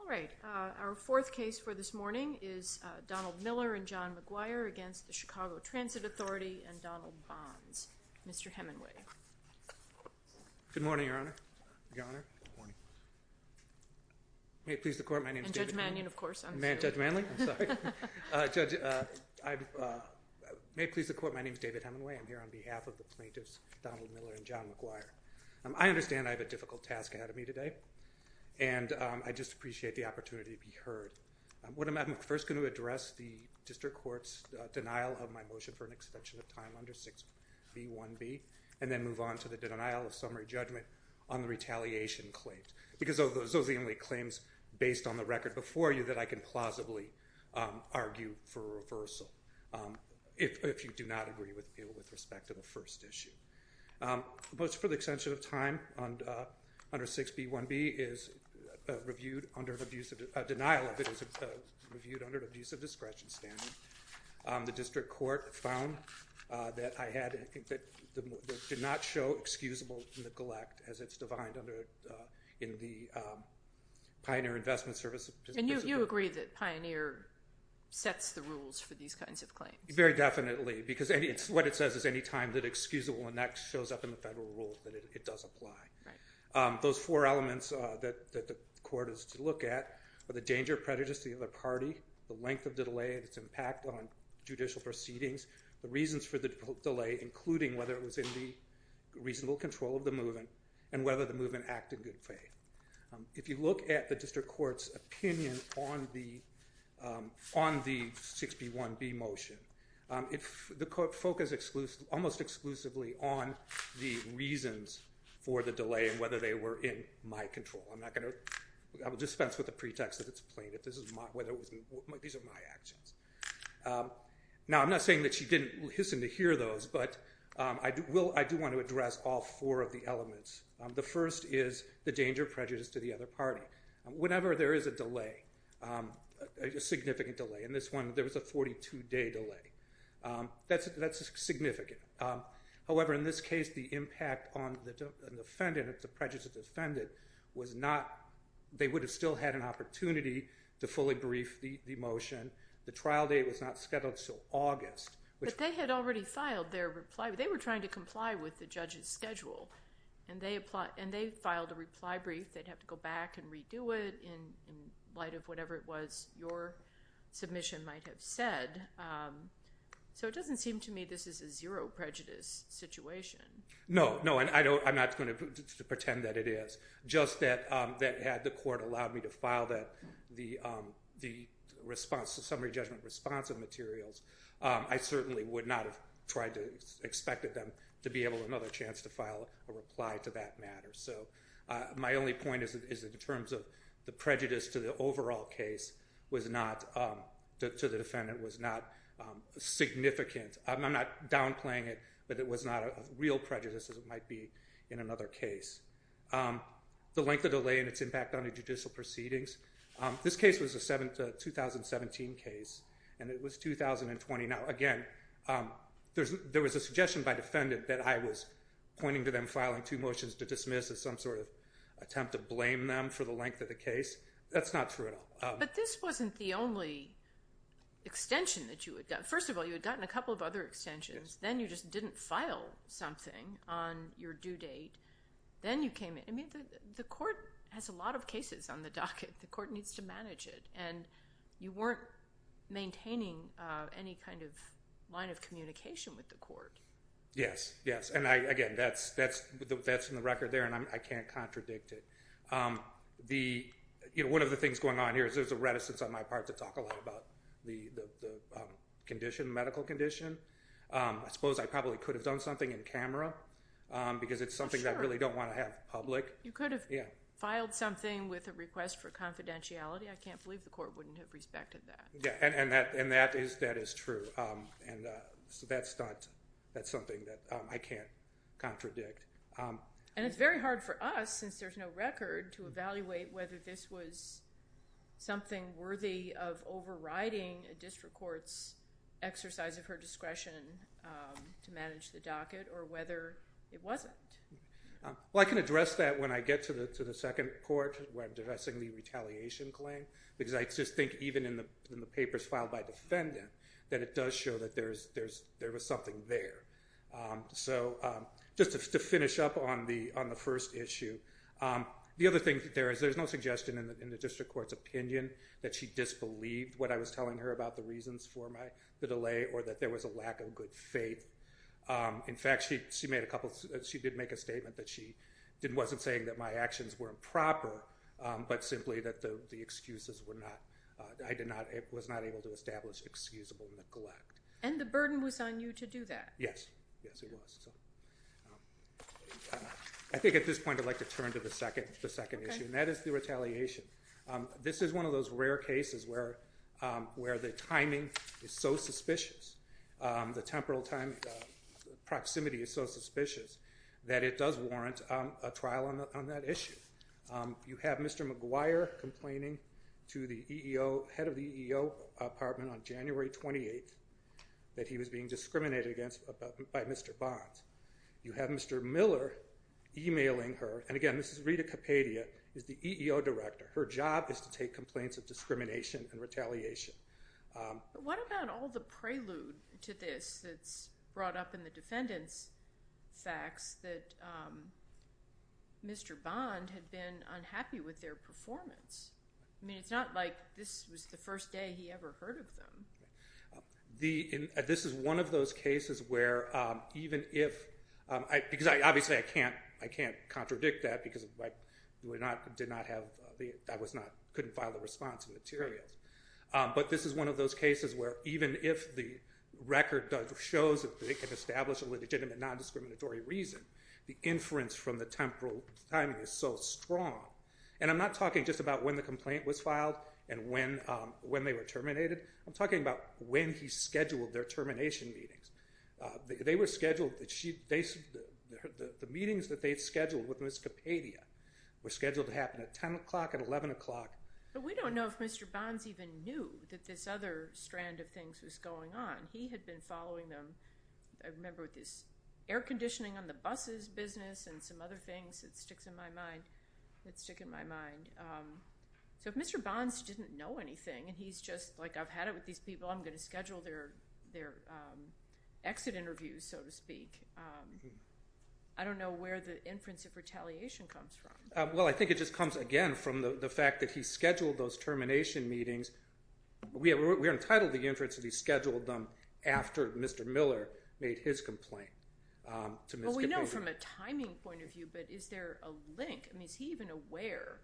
All right. Our fourth case for this morning is Donald Miller and John McGuire v. Chicago Transit Authority v. Donald Bonds. Mr. Hemenway. Good morning, Your Honor. May it please the Court, my name is David Hemenway. I'm here on behalf of the plaintiffs, Donald Miller and John McGuire. I understand I have a difficult task ahead of me today, and I just appreciate the opportunity to be heard. I'm first going to address the district court's denial of my motion for an extension of time under 6B1B, and then move on to the denial of summary judgment on the retaliation claims. Because those are the only claims based on the record before you that I can plausibly argue for reversal if you do not agree with me with respect to the first issue. The motion for the extension of time under 6B1B is reviewed under an abuse of discretion standard. The district court found that I did not show excusable neglect as it's defined under the Pioneer Investment Service. And you agree that Pioneer sets the rules for these kinds of claims? Very definitely, because what it says is any time that excusable and that shows up in the federal rule, that it does apply. Those four elements that the court is to look at are the danger of prejudice to the other party, the length of the delay, its impact on judicial proceedings, the reasons for the delay, including whether it was in the reasonable control of the movement, and whether the movement acted in good faith. If you look at the district court's opinion on the 6B1B motion, the court focused almost exclusively on the reasons for the delay and whether they were in my control. I will dispense with the pretext that it's plain. These are my actions. Now, I'm not saying that she didn't listen to hear those, but I do want to address all four of the elements. The first is the danger of prejudice to the other party. Whenever there is a delay, a significant delay, in this one there was a 42-day delay, that's significant. However, in this case, the impact on the defendant, the prejudiced defendant, was not, they would have still had an opportunity to fully brief the motion. The trial date was not scheduled until August. But they had already filed their reply. They were trying to comply with the judge's schedule, and they filed a reply brief. They'd have to go back and redo it in light of whatever it was your submission might have said. So it doesn't seem to me this is a zero prejudice situation. No, no, and I'm not going to pretend that it is. Just that the court allowed me to file that, the response, the summary judgment response of materials, I certainly would not have tried to, expected them to be able to another chance to file a reply to that matter. So my only point is in terms of the prejudice to the overall case was not, to the defendant was not significant. I'm not downplaying it, but it was not a real prejudice as it might be in another case. The length of delay and its impact on the judicial proceedings. This case was a 2017 case, and it was 2020. Now again, there was a suggestion by defendant that I was pointing to them filing two motions to dismiss as some sort of attempt to blame them for the length of the case. That's not true at all. But this wasn't the only extension that you had gotten. First of all, you had gotten a Then you came in. I mean, the court has a lot of cases on the docket. The court needs to manage it, and you weren't maintaining any kind of line of communication with the court. Yes, yes, and again, that's in the record there, and I can't contradict it. One of the things going on here is there's a reticence on my part to talk a lot about the condition, medical condition. I suppose I probably could have done something in camera because it's something that I really don't want to have public. You could have filed something with a request for confidentiality. I can't believe the court wouldn't have respected that. And that is true, and that's something that I can't contradict. And it's very hard for us, since there's no record, to evaluate whether this was something worthy of overriding a district court's exercise of her discretion to manage the docket or whether it wasn't. Well, I can address that when I get to the second court where I'm addressing the retaliation claim, because I just think even in the papers filed by defendant that it does show that there was something there. So just to finish up on the first issue, the other thing there is there's no suggestion in the district court's opinion that she disbelieved what I was telling her about the reasons for the delay or that there was a lack of good faith. In fact, she did make a statement that she wasn't saying that my actions were improper, but simply that the excuses were not, I was not able to establish excusable neglect. And the burden was on you to do that. Yes, yes it was. I think at this point I'd like to turn to the second issue, and that is the retaliation. This is one of those rare cases where the timing is so suspicious, the temporal proximity is so suspicious that it does warrant a trial on that issue. You have Mr. McGuire complaining to the head of the EEO department on January 28th that he was being discriminated against by Mr. Bonds. You have Mr. Miller emailing her, and again this is Rita Capadia, is the EEO director. Her job is to take complaints of discrimination and retaliation. What about all the prelude to this that's brought up in the defendant's facts that Mr. Bond had been unhappy with their performance? I mean, it's not like this was the first day he ever heard of them. This is one of those cases where even if, because obviously I can't contradict that because I couldn't file the response materials, but this is one of those cases where even if the record shows that they can establish a legitimate non-discriminatory reason, the inference from the temporal timing is so strong. And I'm not talking just about when the complaint was filed and when they were terminated, I'm talking about when he scheduled their termination meetings. They were scheduled, the meetings that they scheduled with Ms. Capadia were scheduled to happen at 10 o'clock and 11 o'clock. But we don't know if Mr. Bonds even knew that this other strand of things was going on. He had been following them, I remember with this air conditioning on the buses business and some other things that stick in my mind, so if Mr. Bonds didn't know anything and he's just like, I've had it with these people, I'm going to schedule their exit interviews, so to speak. I don't know where the inference of retaliation comes from. Well, I think it just comes again from the fact that he scheduled those termination meetings. We are entitled to the inference that he scheduled them after Mr. Miller made his complaint to Ms. Capadia. Well, we know from a timing point of view, but is there a link? I mean, is he even aware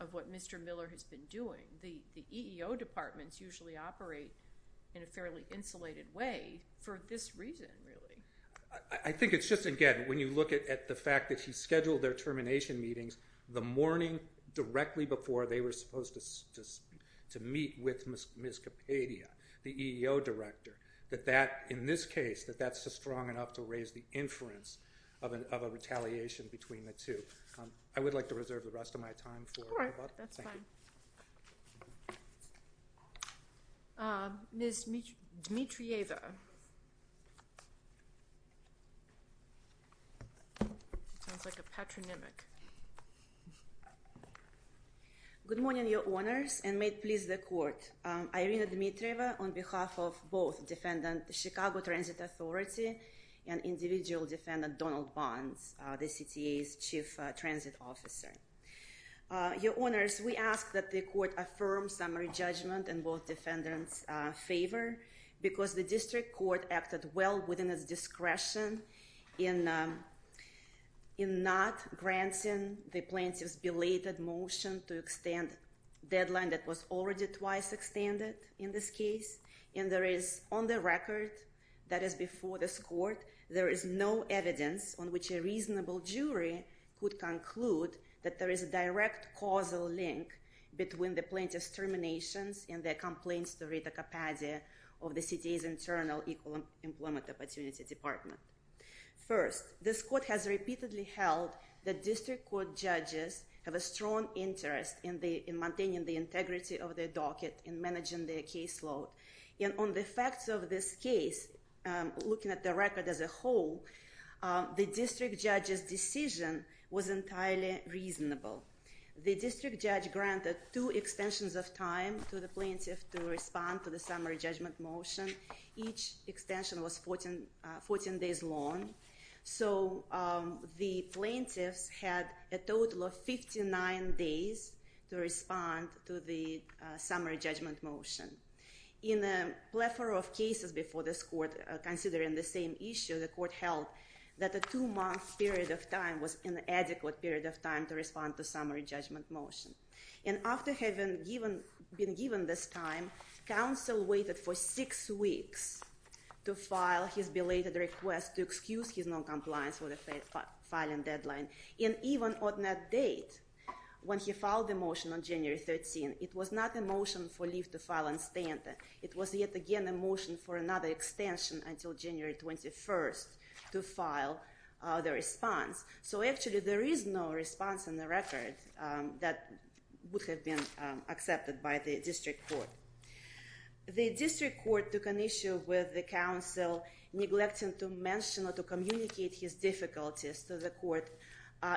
of what Mr. Miller has been doing? The EEO departments usually operate in a fairly insulated way for this reason, really. I think it's just, again, when you look at the fact that he scheduled their termination meetings the morning directly before they were supposed to meet with Ms. Capadia, the EEO director, that that, in this case, that that's just strong enough to raise the inference of a retaliation between the two. I would like to reserve the rest of my time for- All right, that's fine. Ms. Dmitrieva. Sounds like a patronymic. Good morning, your honors, and may it please the court. I'm Irina Dmitrieva on behalf of both defendant, the Chicago Transit Authority, and individual defendant, Donald Barnes, the CTA's chief transit officer. Ms. Dmitrieva. Ms. Dmitrieva. Ms. Dmitrieva. Ms. Dmitrieva. I ask that the court affirm summary judgment in both defendants' favor, because the district court acted well within its discretion in not granting the plaintiff's belated motion to extend deadline that was already twice extended in this case, and there is, on the record that is before this court, there is no evidence on which a reasonable jury could between the plaintiff's terminations and their complaints to Rita Cappadia of the CTA's internal Equal Employment Opportunity Department. First, this court has repeatedly held that district court judges have a strong interest in maintaining the integrity of their docket in managing their caseload, and on the facts of this case, looking at the record as a whole, the district judge's decision was entirely reasonable. The district judge granted two extensions of time to the plaintiff to respond to the summary judgment motion. Each extension was 14 days long. So the plaintiffs had a total of 59 days to respond to the summary judgment motion. In a plethora of cases before this court, considering the same issue, the court held that a two-month period of time was an adequate period of time to respond to summary judgment motion. And after having been given this time, counsel waited for six weeks to file his belated request to excuse his noncompliance with the filing deadline, and even on that date, when he filed the motion on January 13, it was not a motion for leave to file and stand. It was yet again a motion for another extension until January 21 to file the response. So actually, there is no response in the record that would have been accepted by the district court. The district court took an issue with the counsel neglecting to mention or to communicate his difficulties to the court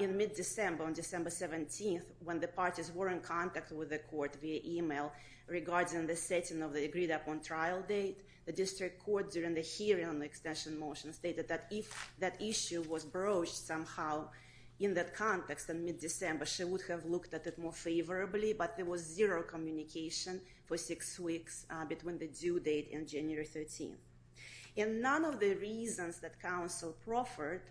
in mid-December, on December 17, when the parties were in contact with the court via email regarding the setting of the agreed-upon trial date. The district court, during the hearing on the extension motion, stated that if that issue was broached somehow in that context in mid-December, she would have looked at it more favorably, but there was zero communication for six weeks between the due date and January 13. And none of the reasons that counsel proffered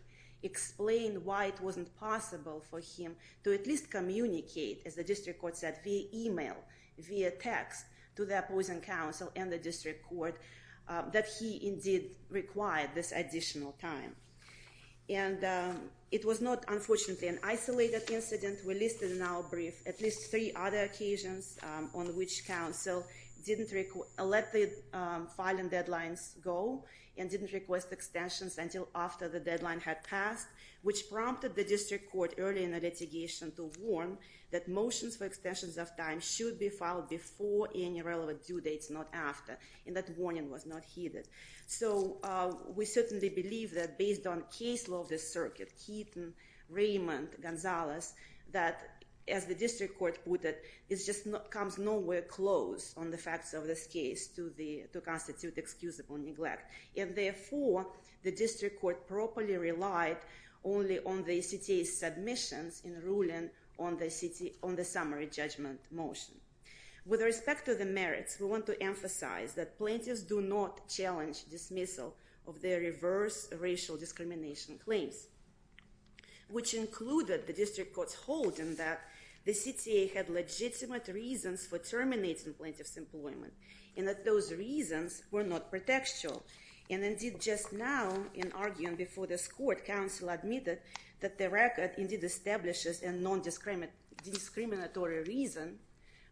explained why it wasn't possible for him to at least communicate, as the district court said, via email, via text, to the opposing counsel and the district court, that he indeed required this additional time. And it was not, unfortunately, an isolated incident. We listed in our brief at least three other occasions on which counsel didn't let the filing deadlines go and didn't request extensions until after the deadline had passed, which prompted the district court early in the litigation to warn that motions for extensions of time should be filed before any relevant due dates, not after, and that warning was not heeded. So we certainly believe that based on case law of the circuit, Keaton, Raymond, Gonzalez, that as the district court put it, it just comes nowhere close on the facts of this case to constitute excusable neglect. And therefore, the district court properly relied only on the CTA's submissions in ruling on the summary judgment motion. With respect to the merits, we want to emphasize that plaintiffs do not challenge dismissal of their reverse racial discrimination claims, which included the district court's holding that the CTA had legitimate reasons for terminating plaintiffs' employment and that those reasons were not pretextual. And indeed, just now, in arguing before this court, counsel admitted that the record indeed establishes a non-discriminatory reason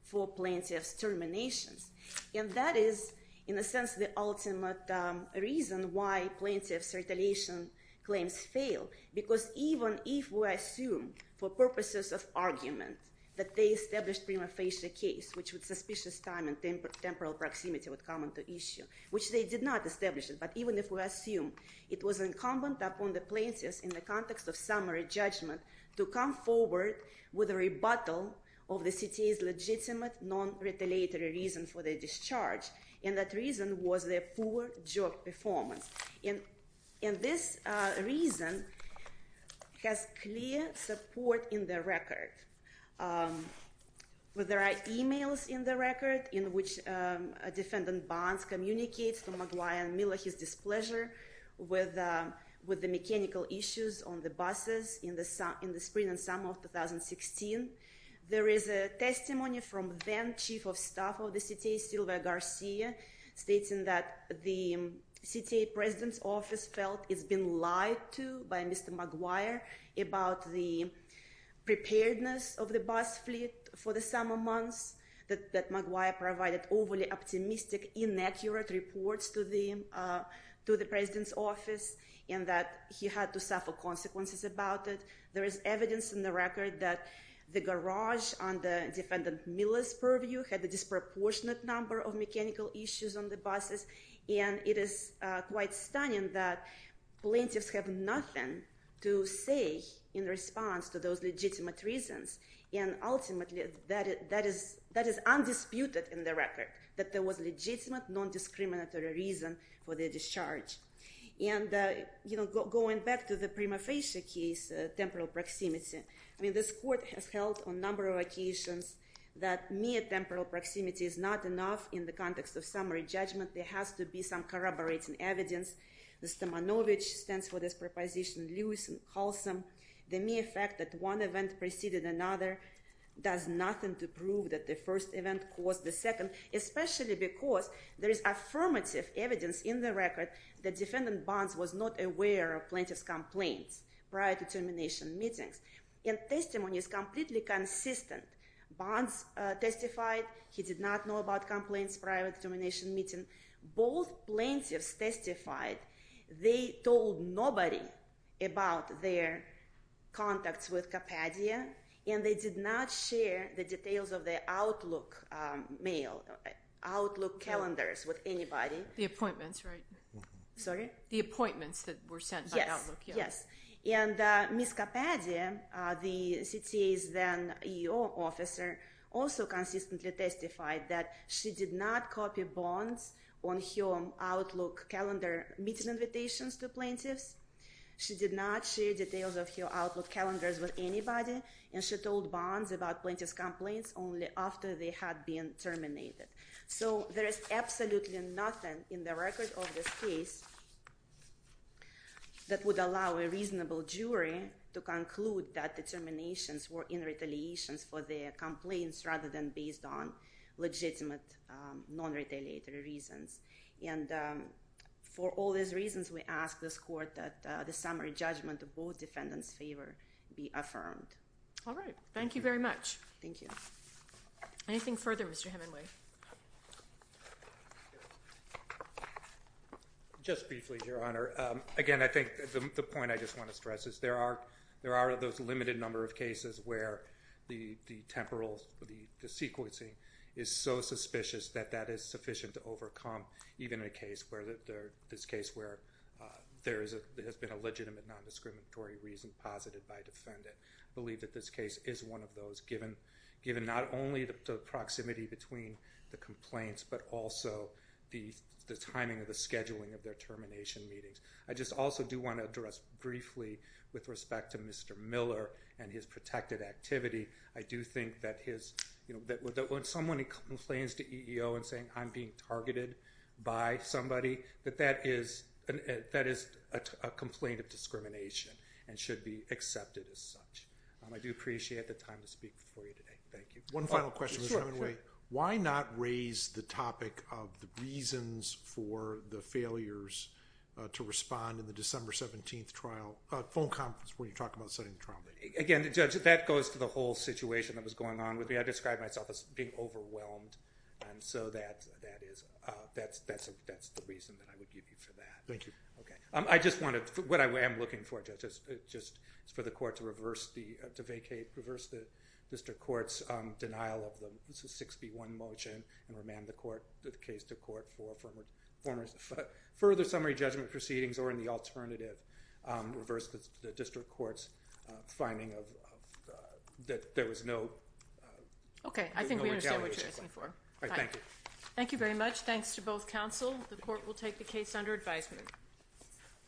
for plaintiffs' terminations, and that is, in a sense, the ultimate reason why plaintiffs' retaliation claims fail. Because even if we assume, for purposes of argument, that they established prima facie a case, which with suspicious time and temporal proximity would come into issue, which they did not establish, but even if we assume it was incumbent upon the plaintiffs in the context of summary judgment to come forward with a rebuttal of the CTA's legitimate non-retaliatory reason for their discharge, and that reason was their poor job performance. And this reason has clear support in the record. There are emails in the record in which a defendant, Barnes, communicates to McGuire and Miller his displeasure with the mechanical issues on the buses in the spring and summer of 2016. There is a testimony from then-chief of staff of the CTA, Sylvia Garcia, stating that the CTA president's office felt it's been lied to by Mr. McGuire about the preparedness of the bus fleet for the summer months, that McGuire provided overly optimistic, inaccurate reports to the president's office, and that he had to suffer consequences about it. There is evidence in the record that the garage under Defendant Miller's purview had a disproportionate number of mechanical issues on the buses, and it is quite stunning that plaintiffs have nothing to say in response to those legitimate reasons, and ultimately that is undisputed in the record, that there was legitimate non-discriminatory reason for their discharge. And going back to the prima facie case, temporal proximity, this court has held on a number of occasions that mere temporal proximity is not enough in the context of summary judgment. There has to be some corroborating evidence. The Stomanovich stands for this proposition, Lewis and Halsam. The mere fact that one event preceded another does nothing to prove that the first event caused the second, especially because there is affirmative evidence in the record that Defendant Barnes was not aware of plaintiffs' complaints prior to termination meetings. And testimony is completely consistent. Barnes testified he did not know about complaints prior to termination meeting. Both plaintiffs testified they told nobody about their contacts with Kapadia, and they did not share the details of their Outlook mail, Outlook calendars with anybody. The appointments, right? Sorry? The appointments that were sent by Outlook, yes. And Ms. Kapadia, the CTA's then-EO officer, also consistently testified that she did not copy Barnes on her Outlook calendar meeting invitations to plaintiffs. She did not share details of her Outlook calendars with anybody, and she told Barnes about plaintiffs' complaints only after they had been terminated. So there is absolutely nothing in the record of this case that would allow a reasonable jury to conclude that the terminations were in retaliations for their complaints rather than based on legitimate non-retaliatory reasons. And for all these reasons, we ask this Court that the summary judgment of both defendants' favor be affirmed. All right. Thank you very much. Thank you. Anything further, Mr. Hemingway? Just briefly, Your Honor. Again, I think the point I just want to stress is there are, there are those limited number of cases where the temporal, the sequencing is so suspicious that that is sufficient to overcome even in a case where, this case where there has been a legitimate non-discriminatory reason posited by a defendant. I believe that this case is one of those, given not only the proximity between the complaints but also the timing of the scheduling of their termination meetings. I just also do want to address briefly with respect to Mr. Miller and his protected activity, I do think that his, that when someone complains to EEO and saying, I'm being targeted by somebody, that that is, that is a complaint of discrimination and should be accepted as such. I do appreciate the time to speak for you today. Thank you. One final question, Mr. Hemingway. Sure, sure. Why not raise the topic of the reasons for the failures to respond in the December 17th trial, phone conference where you talk about setting the trial date? Again, Judge, that goes to the whole situation that was going on with me. I describe myself as being overwhelmed, and so that is, that's the reason that I would give you for that. Thank you. Okay. I just wanted, what I am looking for, Judge, is for the court to reverse the district court's denial of the 6B1 motion and remand the court, the case to court for further summary judgment proceedings or in the alternative, reverse the district court's finding of, that there was no, no retaliation. Okay. I think we understand what you're asking for. All right. Thank you. Thank you very much. Thanks to both counsel. The court will take the case under advisement.